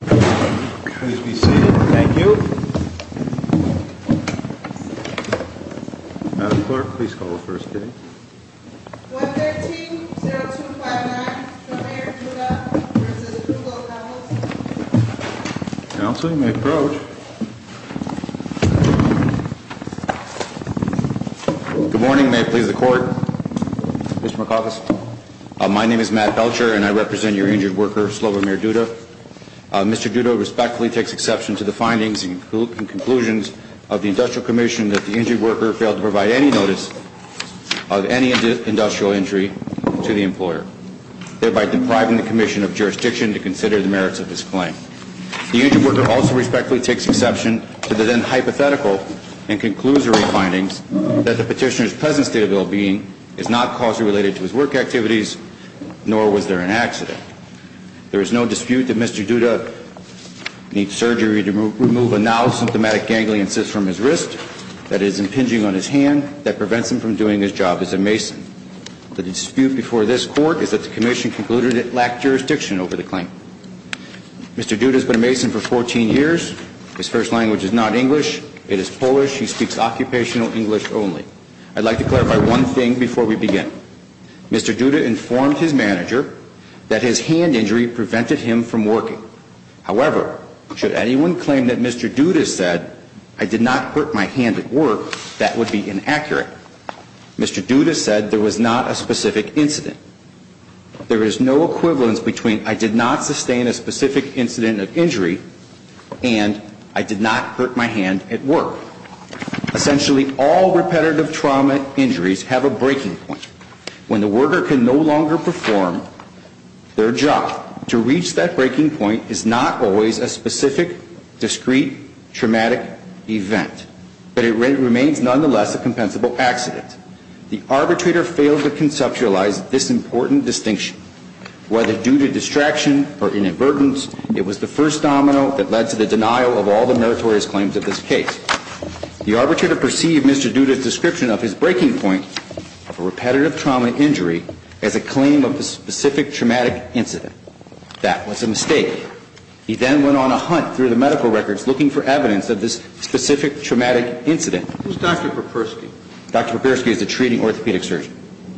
Please be seated. Thank you. Madam Clerk, please call the first hearing. 113-0259, Slobo Mayor Duda v. Krugelkampels. Counsel, you may approach. Good morning. May it please the Court? Mr. McAuliffe. My name is Matt Belcher and I represent your injured worker, Slobo Mayor Duda. Mr. Duda respectfully takes exception to the findings and conclusions of the Industrial Commission that the injured worker failed to provide any notice of any industrial injury to the employer, thereby depriving the Commission of jurisdiction to consider the merits of his claim. The injured worker also respectfully takes exception to the then hypothetical and conclusory findings that the petitioner's present state of well-being is not causally related to his work activities, nor was there an accident. There is no dispute that Mr. Duda needs surgery to remove a now symptomatic ganglion cyst from his wrist that is impinging on his hand that prevents him from doing his job as a mason. The dispute before this Court is that the Commission concluded it lacked jurisdiction over the claim. Mr. Duda has been a mason for 14 years. His first language is not English. It is Polish. He speaks occupational English only. I'd like to clarify one thing before we begin. Mr. Duda informed his manager that his hand injury prevented him from working. However, should anyone claim that Mr. Duda said, I did not hurt my hand at work, that would be inaccurate. Mr. Duda said there was not a specific incident. There is no equivalence between I did not sustain a specific incident of injury and I did not hurt my hand at work. Essentially, all repetitive trauma injuries have a breaking point. When the worker can no longer perform their job, to reach that breaking point is not always a specific, discreet, traumatic event, but it remains nonetheless a compensable accident. The arbitrator failed to conceptualize this important distinction. Whether due to distraction or inadvertence, it was the first domino that led to the denial of all the meritorious claims of this case. The arbitrator perceived Mr. Duda's description of his breaking point of a repetitive trauma injury as a claim of a specific traumatic incident. That was a mistake. He then went on a hunt through the medical records looking for evidence of this specific traumatic incident. Who's Dr. Popersky? Dr. Popersky is a treating orthopedic surgeon.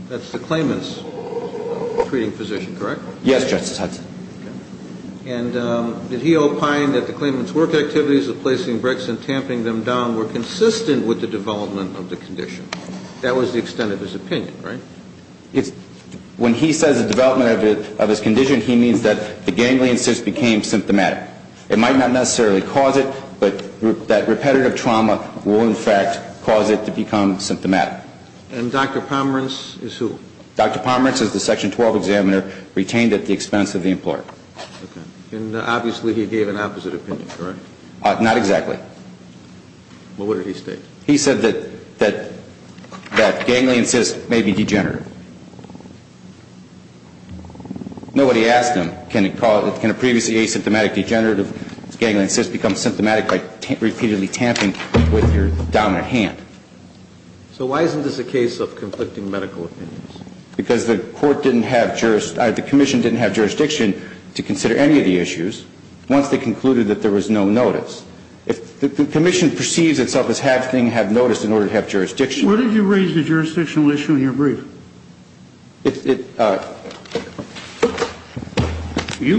That's the claimant's treating physician, correct? Yes, Justice Hudson. And did he opine that the claimant's work activities of placing bricks and tamping them down were consistent with the development of the condition? That was the extent of his opinion, right? When he says the development of his condition, he means that the ganglion cyst became symptomatic. It might not necessarily cause it, but that repetitive trauma will in fact cause it to become symptomatic. And Dr. Pomerance is who? Dr. Pomerance is the Section 12 examiner retained at the expense of the employer. And obviously he gave an opposite opinion, correct? Not exactly. Well, what did he state? He said that ganglion cyst may be degenerative. Nobody asked him can a previously asymptomatic degenerative ganglion cyst become symptomatic by repeatedly tamping with your dominant hand. So why isn't this a case of conflicting medical opinions? Because the Court didn't have jurisdiction or the Commission didn't have jurisdiction to consider any of the issues once they concluded that there was no notice. If the Commission perceives itself as having had notice in order to have jurisdiction Where did you raise the jurisdictional issue in your brief? You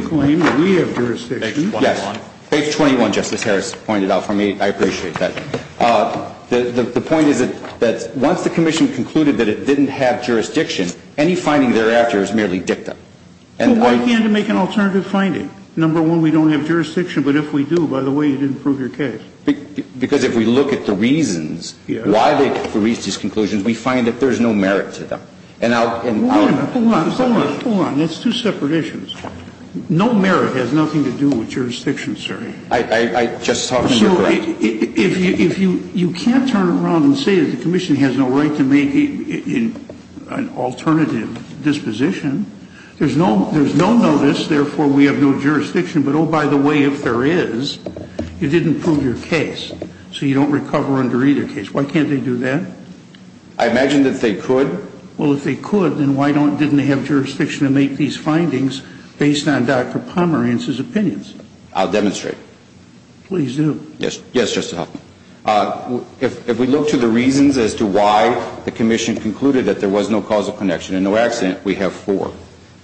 claim that we have jurisdiction. Yes. Page 21. Page 21, Justice Harris pointed out for me. I appreciate that. The point is that once the Commission concluded that it didn't have jurisdiction, any finding thereafter is merely dicta. Well, why can't it make an alternative finding? Number one, we don't have jurisdiction. But if we do, by the way, you didn't prove your case. Because if we look at the reasons why they reached these conclusions, we find that there's no merit to them. Hold on. Hold on. Hold on. That's two separate issues. No merit has nothing to do with jurisdiction, sir. I just thought you were correct. If you can't turn around and say that the Commission has no right to make an alternative disposition, there's no notice, therefore we have no jurisdiction. But, oh, by the way, if there is, you didn't prove your case. So you don't recover under either case. Why can't they do that? I imagine that they could. Well, if they could, then why didn't they have jurisdiction to make these findings based on Dr. Pomerantz's opinions? I'll demonstrate. Please do. Yes, Justice Hoffman. If we look to the reasons as to why the Commission concluded that there was no causal connection and no accident, we have four.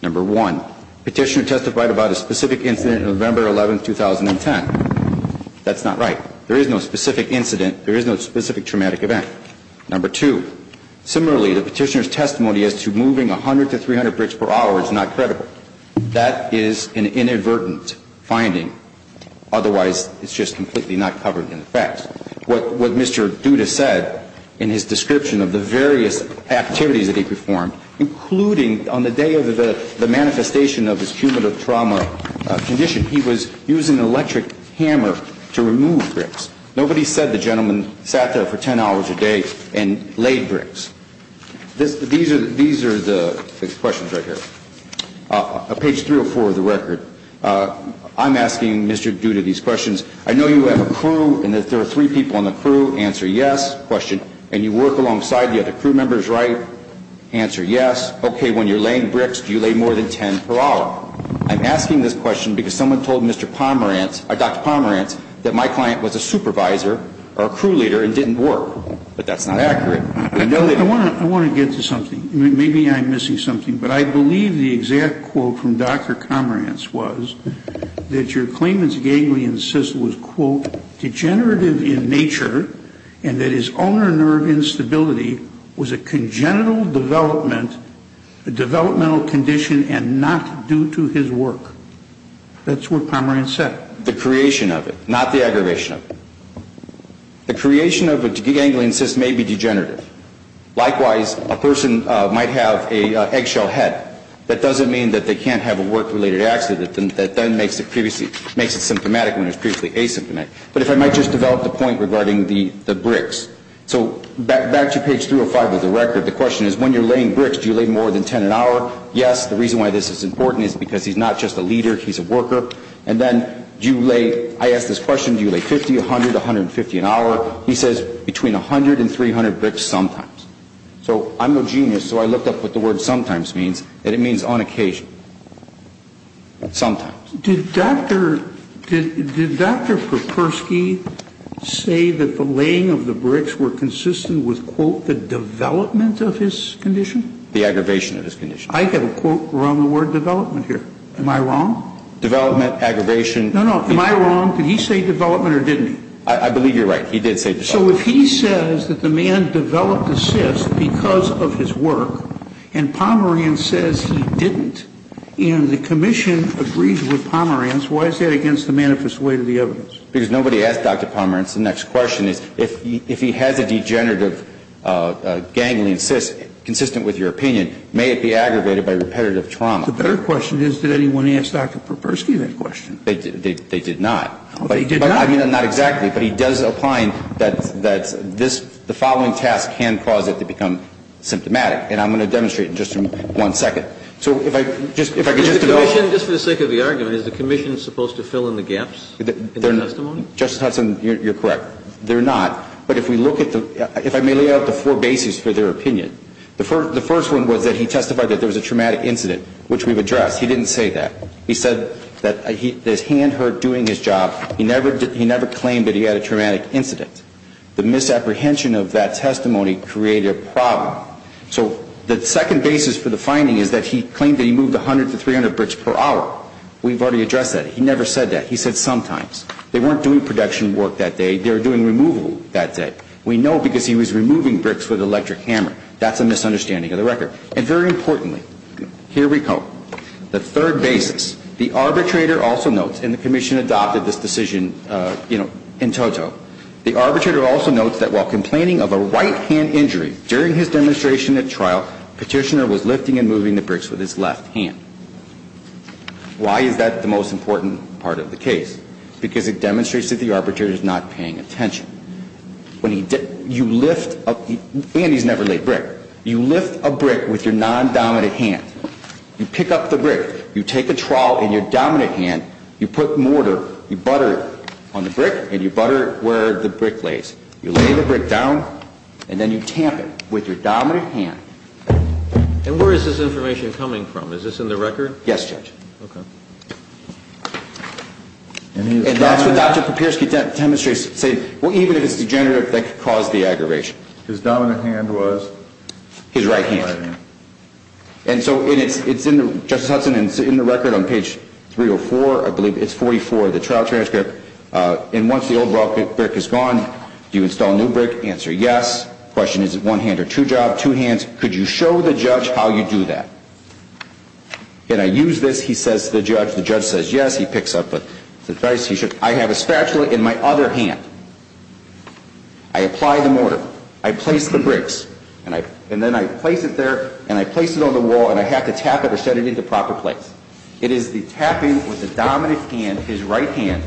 Number one, petitioner testified about a specific incident on November 11, 2010. That's not right. There is no specific incident. There is no specific traumatic event. Number two, similarly, the petitioner's testimony as to moving 100 to 300 bricks per hour is not credible. That is an inadvertent finding. Otherwise, it's just completely not covered in the facts. What Mr. Duda said in his description of the various activities that he performed, including on the day of the manifestation of his cumulative trauma condition, he was using an electric hammer to remove bricks. Nobody said the gentleman sat there for 10 hours a day and laid bricks. These are the questions right here. Page 304 of the record. I'm asking Mr. Duda these questions. I know you have a crew and that there are three people on the crew. Answer yes. Question. And you work alongside the other crew members, right? Answer yes. Okay. When you're laying bricks, do you lay more than 10 per hour? I'm asking this question because someone told Mr. Pomerantz or Dr. Pomerantz that my client was a supervisor or a crew leader and didn't work. But that's not accurate. I want to get to something. Maybe I'm missing something. But I believe the exact quote from Dr. Pomerantz was that your claimant's ganglion cyst was, quote, degenerative in nature and that his ulnar nerve instability was a congenital development, a developmental condition, and not due to his work. That's what Pomerantz said. The creation of it, not the aggravation of it. The creation of a ganglion cyst may be degenerative. Likewise, a person might have an eggshell head. That doesn't mean that they can't have a work-related accident that then makes it symptomatic when it's previously asymptomatic. But if I might just develop the point regarding the bricks. So back to page 305 of the record, the question is when you're laying bricks, do you lay more than 10 an hour? Yes. The reason why this is important is because he's not just a leader. He's a worker. And then do you lay, I ask this question, do you lay 50, 100, 150 an hour? He says between 100 and 300 bricks sometimes. So I'm no genius, so I looked up what the word sometimes means, and it means on occasion, sometimes. Did Dr. Perpersky say that the laying of the bricks were consistent with, quote, the development of his condition? The aggravation of his condition. I have a quote around the word development here. Am I wrong? Development, aggravation. No, no. Am I wrong? Did he say development or didn't he? I believe you're right. He did say development. So if he says that the man developed a cyst because of his work, and Pomerantz says he didn't, and the commission agrees with Pomerantz, why is that against the manifest way to the evidence? Because nobody asked Dr. Pomerantz. The next question is if he has a degenerative ganglion cyst consistent with your opinion, may it be aggravated by repetitive trauma? The better question is did anyone ask Dr. Perpersky that question? They did not. They did not? I mean, not exactly. But he does opine that this, the following task can cause it to become symptomatic. And I'm going to demonstrate in just one second. So if I could just to go over. Just for the sake of the argument, is the commission supposed to fill in the gaps in their testimony? Justice Hudson, you're correct. They're not. But if we look at the, if I may lay out the four bases for their opinion. The first one was that he testified that there was a traumatic incident, which we've addressed. He didn't say that. He said that his hand hurt doing his job. He never claimed that he had a traumatic incident. The misapprehension of that testimony created a problem. So the second basis for the finding is that he claimed that he moved 100 to 300 bricks per hour. We've already addressed that. He never said that. He said sometimes. They weren't doing production work that day. They were doing removal that day. We know because he was removing bricks with an electric hammer. That's a misunderstanding of the record. And very importantly, here we go. The third basis. The arbitrator also notes, and the commission adopted this decision, you know, in toto. The arbitrator also notes that while complaining of a right-hand injury during his demonstration at trial, Petitioner was lifting and moving the bricks with his left hand. Why is that the most important part of the case? Because it demonstrates that the arbitrator is not paying attention. When he, you lift, and he's never laid brick. You lift a brick with your non-dominant hand. You pick up the brick. You take a trowel in your dominant hand. You put mortar, you butter it on the brick, and you butter it where the brick lays. You lay the brick down, and then you tamp it with your dominant hand. And where is this information coming from? Is this in the record? Yes, Judge. Okay. And that's what Dr. Kopierski demonstrates, saying, well, even if it's degenerative, that could cause the aggravation. His dominant hand was? His right hand. And so it's in the, Justice Hudson, it's in the record on page 304, I believe. It's 44, the trial transcript. And once the old brick is gone, do you install a new brick? Answer, yes. Question, is it one hand or two job? Two hands. Could you show the judge how you do that? Can I use this? He says to the judge. The judge says yes. He picks up the advice. I have a spatula in my other hand. I apply the mortar. I place the bricks. And then I place it there, and I place it on the wall, and I have to tap it or set it into proper place. It is the tapping with the dominant hand, his right hand,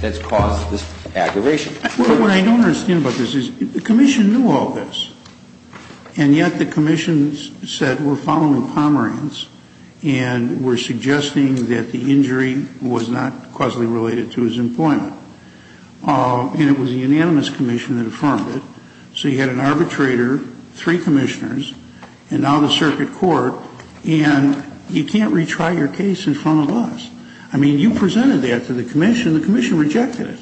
that's caused this aggravation. What I don't understand about this is the commission knew all this. And yet the commission said we're following Pomerantz, and we're suggesting that the injury was not causally related to his employment. And it was the unanimous commission that affirmed it. So you had an arbitrator, three commissioners, and now the circuit court, and you can't retry your case in front of us. I mean, you presented that to the commission. The commission rejected it.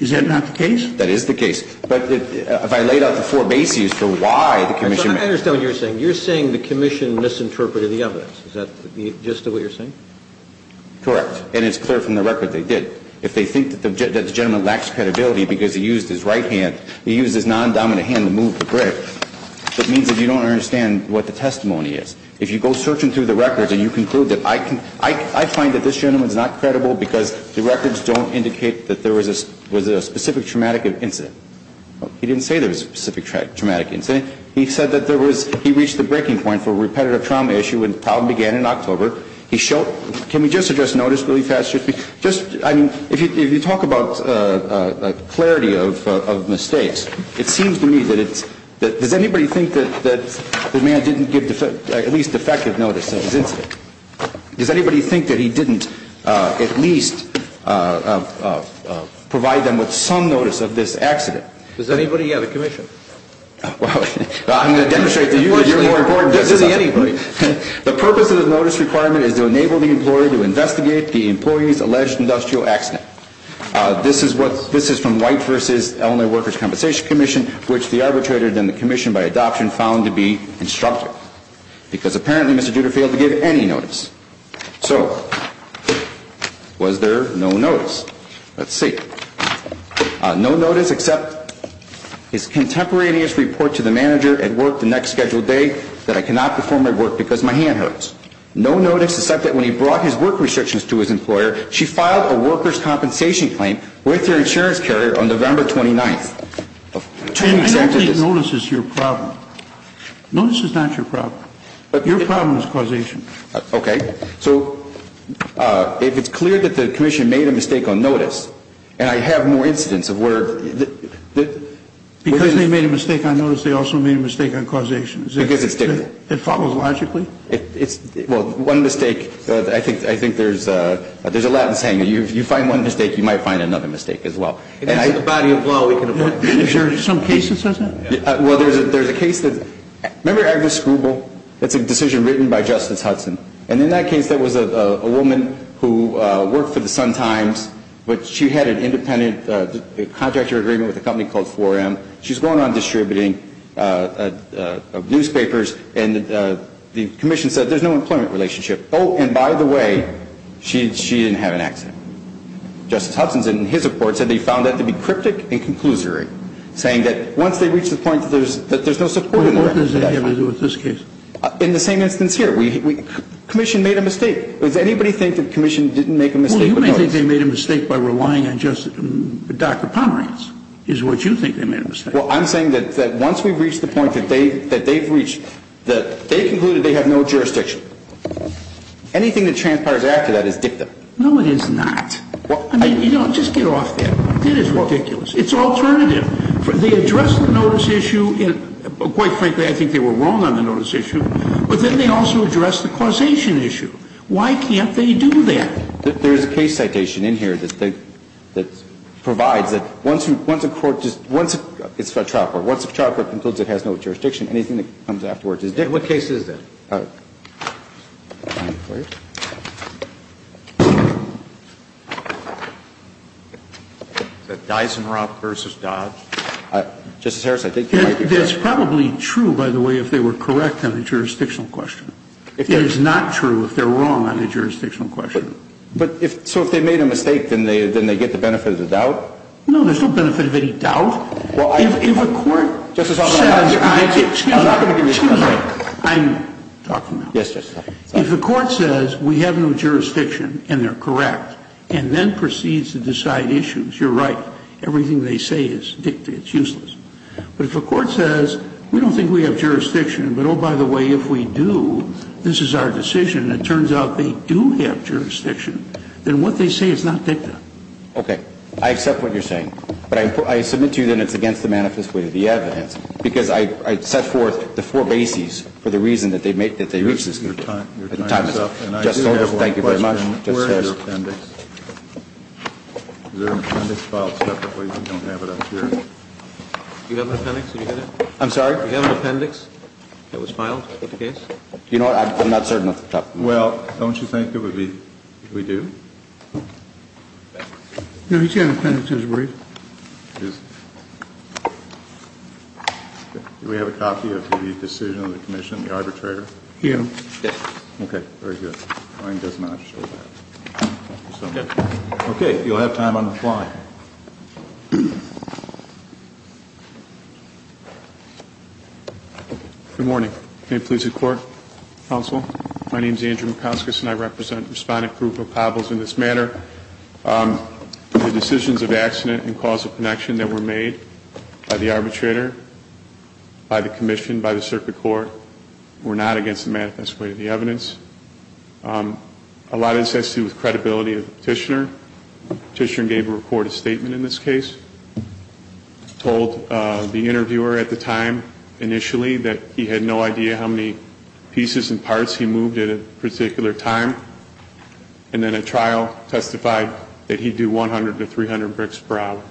Is that not the case? That is the case. But if I laid out the four bases for why the commission ---- I understand what you're saying. You're saying the commission misinterpreted the evidence. Is that the gist of what you're saying? Correct. And it's clear from the record they did. If they think that the gentleman lacks credibility because he used his right hand, he used his non-dominant hand to move the brick, that means that you don't understand what the testimony is. If you go searching through the records and you conclude that I can ---- I find that this gentleman is not credible because the records don't indicate that there was a specific traumatic incident. He didn't say there was a specific traumatic incident. He said that there was ---- he reached the breaking point for a repetitive trauma issue when the problem began in October. He showed ---- can we just address notice really fast? Just ---- I mean, if you talk about clarity of mistakes, it seems to me that it's ---- does anybody think that the man didn't give at least effective notice of his incident? Does anybody think that he didn't at least provide them with some notice of this accident? Does anybody? Yeah, the commission. Well, I'm going to demonstrate to you that you're more important than somebody. Anyway, the purpose of the notice requirement is to enable the employer to investigate the employee's alleged industrial accident. This is what ---- this is from White v. Illinois Workers' Compensation Commission, which the arbitrator then the commission by adoption found to be instructive because apparently Mr. Duder failed to give any notice. So was there no notice? Let's see. No notice except his contemporaneous report to the manager at work the next scheduled day that I cannot perform my work because my hand hurts. No notice except that when he brought his work restrictions to his employer, she filed a workers' compensation claim with her insurance carrier on November 29th. I don't think notice is your problem. Notice is not your problem. Your problem is causation. Okay. So if it's clear that the commission made a mistake on notice, and I have more incidents of where ---- Because they made a mistake on notice, they also made a mistake on causation. Because it's different. It follows logically. Well, one mistake, I think there's a Latin saying, if you find one mistake, you might find another mistake as well. If it's in the body of law, we can avoid it. Is there some case that says that? Well, there's a case that ---- Remember Agnes Grubel? It's a decision written by Justice Hudson. And in that case, there was a woman who worked for the Sun-Times, but she had an independent contractor agreement with a company called 4M. She's going around distributing newspapers, and the commission said there's no employment relationship. Oh, and by the way, she didn't have an accident. Justice Hudson, in his report, said they found that to be cryptic and conclusory, saying that once they reach the point that there's no support in the ---- What does that have to do with this case? In the same instance here. Commission made a mistake. Does anybody think that the commission didn't make a mistake on notice? Well, you may think they made a mistake by relying on Justice ---- Dr. Pomerance is what you think they made a mistake. Well, I'm saying that once we've reached the point that they've reached, that they concluded they have no jurisdiction. Anything that transpires after that is dictum. No, it is not. I mean, you know, just get off that. That is ridiculous. It's alternative. They addressed the notice issue, and quite frankly, I think they were wrong on the notice issue. But then they also addressed the causation issue. Why can't they do that? There's a case citation in here that provides that once a court just ---- it's a trial court. Once a trial court concludes it has no jurisdiction, anything that comes afterwards is dictum. And what case is that? Dysonrock v. Dodge. Justice Harris, I think you might be correct. It's probably true, by the way, if they were correct on the jurisdictional question. It is not true if they're wrong on the jurisdictional question. But if so, if they made a mistake, then they get the benefit of the doubt? No, there's no benefit of any doubt. If a court says ---- Justice Alito, excuse me. I'm talking now. If a court says we have no jurisdiction and they're correct and then proceeds to decide issues, you're right. Everything they say is dictum. It's useless. But if a court says we don't think we have jurisdiction, but oh, by the way, if we do, this is our decision, and it turns out they do have jurisdiction, then what they say is not dictum. Okay. I accept what you're saying. But I submit to you that it's against the manifest way of the evidence. Because I set forth the four bases for the reason that they reached this conclusion. Your time is up. Thank you very much. Where is your appendix? Is there an appendix filed separately? We don't have it up here. Do you have an appendix? I'm sorry? Do you have an appendix that was filed with the case? You know what? I'm not certain of the top. Well, don't you think it would be if we do? No, he's got an appendix. Do we have a copy of the decision of the commission, the arbitrator? Yes. Okay. Very good. Brian does not show that. Okay. You'll have time on the fly. Good morning. May it please the court, counsel. My name is Andrew McCaskiss, and I represent Respondent Krupa Pablos in this matter. The decisions of accident and causal connection that were made by the arbitrator, by the commission, by the circuit court, were not against the manifest way of the evidence. A lot of this has to do with credibility of the petitioner. The petitioner gave the report a statement in this case, told the interviewer at the time initially that he had no idea how many pieces and parts he moved at a particular time, and then at trial testified that he'd do 100 to 300 bricks per hour.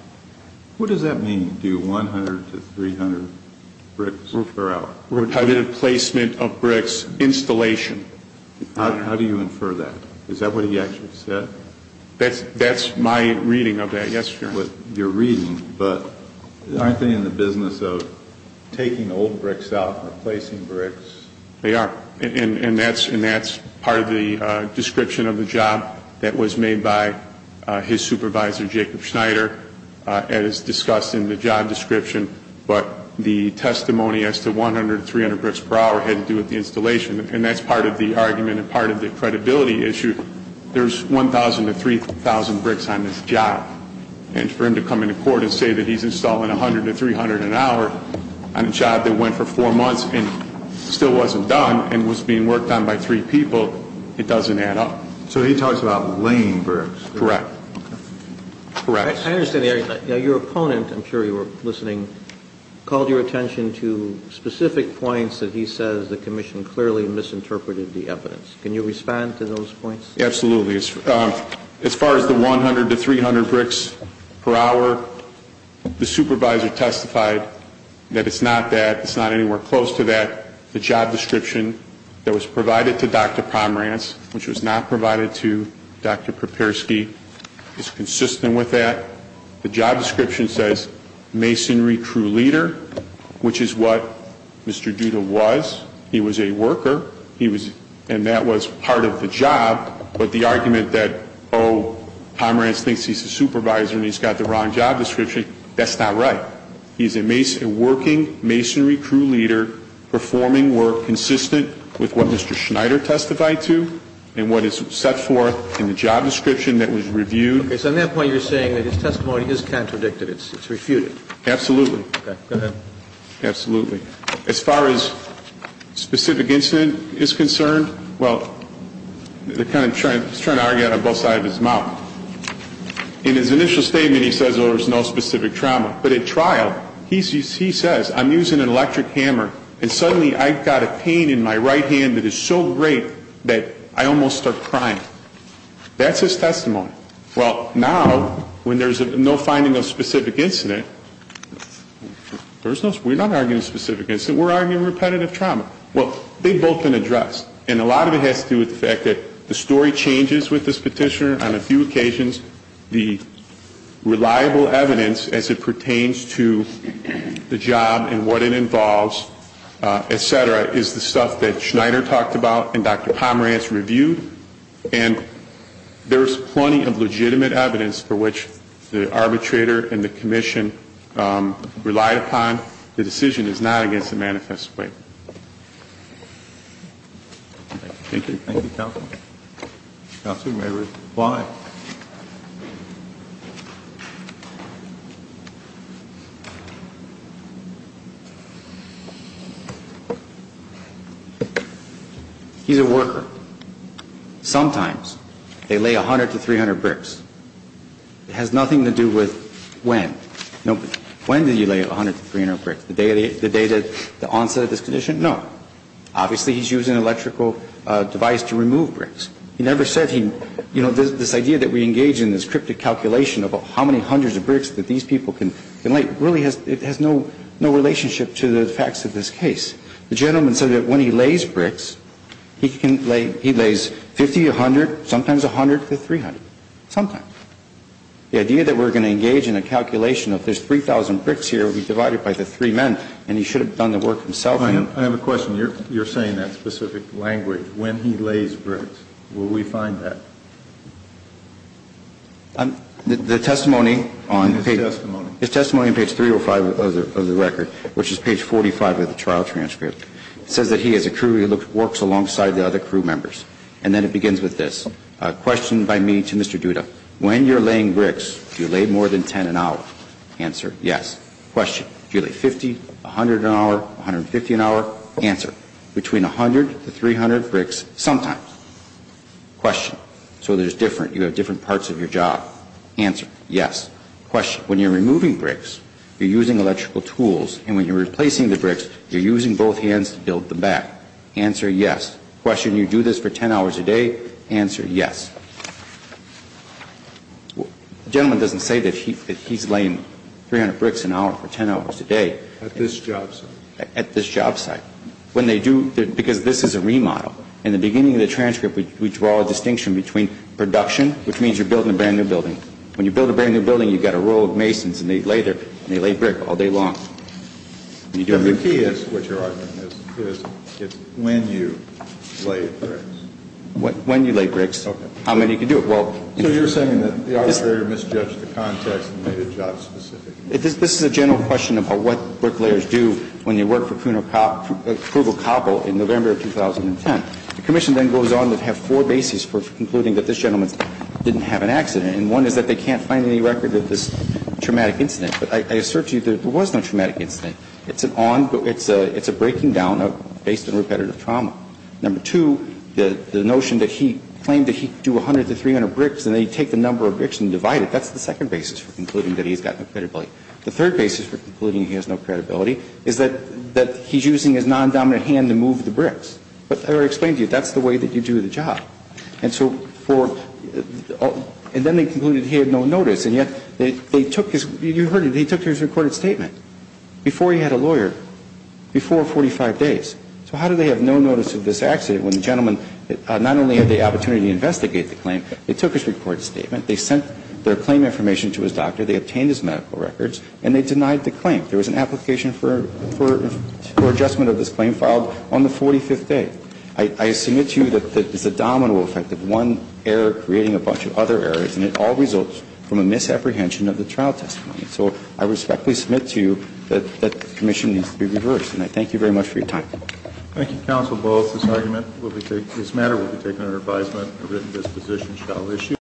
What does that mean, do 100 to 300 bricks per hour? I did a placement of bricks installation. How do you infer that? Is that what he actually said? That's my reading of that, yes, Your Honor. You're reading, but aren't they in the business of taking old bricks out and replacing bricks? They are. And that's part of the description of the job that was made by his supervisor, Jacob Schneider, as discussed in the job description. But the testimony as to 100 to 300 bricks per hour had to do with the installation. And that's part of the argument and part of the credibility issue. There's 1,000 to 3,000 bricks on this job. And for him to come into court and say that he's installing 100 to 300 an hour on a job that went for four months and still wasn't done and was being worked on by three people, it doesn't add up. So he talks about laying bricks. Correct. Correct. I understand that your opponent, I'm sure you were listening, called your attention to specific points that he says the commission clearly misinterpreted the evidence. Can you respond to those points? Absolutely. As far as the 100 to 300 bricks per hour, the supervisor testified that it's not that, it's not anywhere close to that. The job description that was provided to Dr. Pomerantz, which was not provided to Dr. Papirsky, is consistent with that. The job description says masonry crew leader, which is what Mr. Duda was. He was a worker, and that was part of the job. But the argument that, oh, Pomerantz thinks he's a supervisor and he's got the wrong job description, that's not right. He's a working masonry crew leader performing work consistent with what Mr. Schneider testified to and what is set forth in the job description that was reviewed. Okay. So on that point, you're saying that his testimony is contradicted. It's refuted. Absolutely. Okay. Go ahead. Absolutely. As far as specific incident is concerned, well, they're kind of trying to argue that on both sides of his mouth. In his initial statement, he says there was no specific trauma. But at trial, he says, I'm using an electric hammer, and suddenly I've got a pain in my right hand that is so great that I almost start crying. That's his testimony. Well, now, when there's no finding of specific incident, we're not arguing specific incident. We're arguing repetitive trauma. Well, they've both been addressed. And a lot of it has to do with the fact that the story changes with this petitioner on a few occasions. The reliable evidence as it pertains to the job and what it involves, et cetera, is the stuff that Schneider talked about and Dr. Pomerantz reviewed. And there's plenty of legitimate evidence for which the arbitrator and the commission relied upon. The decision is not against the manifest way. Thank you. Thank you, counsel. Counsel may reply. He's a worker. Sometimes they lay 100 to 300 bricks. It has nothing to do with when. When did you lay 100 to 300 bricks? The day that the onset of this condition? No. Obviously, he's using an electrical device to remove bricks. He never said this idea that we engage in this cryptic calculation of how many hundreds of bricks that these people can lay really has no relationship to the facts of this case. The gentleman said that when he lays bricks, he lays 50 to 100, sometimes 100 to 300. Sometimes. The idea that we're going to engage in a calculation of there's 3,000 bricks here, we divide it by the three men, and he should have done the work himself. I have a question. When you're saying that specific language, when he lays bricks, will we find that? The testimony on page 305 of the record, which is page 45 of the trial transcript, says that he as a crew works alongside the other crew members. And then it begins with this. A question by me to Mr. Duda. When you're laying bricks, do you lay more than 10 an hour? Answer, yes. Question. Do you lay 50, 100 an hour, 150 an hour? Answer. Between 100 to 300 bricks, sometimes. Question. So there's different, you have different parts of your job. Answer, yes. Question. When you're removing bricks, you're using electrical tools, and when you're replacing the bricks, you're using both hands to build them back. Answer, yes. Question. You do this for 10 hours a day? Answer, yes. The gentleman doesn't say that he's laying 300 bricks an hour for 10 hours a day. At this job site. When they do, because this is a remodel. In the beginning of the transcript, we draw a distinction between production, which means you're building a brand-new building. When you build a brand-new building, you've got a row of masons, and they lay brick all day long. The key is what your argument is. It's when you lay bricks. When you lay bricks. Okay. How many can do it? So you're saying that the arbitrator misjudged the context and made it job-specific. This is a general question about what bricklayers do when you work for Krugelkoppel in November of 2010. The commission then goes on to have four bases for concluding that this gentleman didn't have an accident. And one is that they can't find any record of this traumatic incident. But I assert to you there was no traumatic incident. It's an on, it's a breaking down based on repetitive trauma. Number two, the notion that he claimed that he could do 100 to 300 bricks, and then The third basis for concluding he has no credibility is that he's using his non-dominant hand to move the bricks. But I already explained to you, that's the way that you do the job. And so for, and then they concluded he had no notice. And yet they took his, you heard it, they took his recorded statement before he had a lawyer, before 45 days. So how do they have no notice of this accident when the gentleman not only had the opportunity to investigate the claim, they took his recorded statement, they sent their claim information to his doctor, they obtained his medical records, and they denied the claim. There was an application for adjustment of this claim filed on the 45th day. I submit to you that there's a domino effect of one error creating a bunch of other errors, and it all results from a misapprehension of the trial testimony. So I respectfully submit to you that the commission needs to be reversed. And I thank you very much for your time. Thank you, Counsel Ball. This argument will be taken, this matter will be taken under advisement. A written disposition shall issue.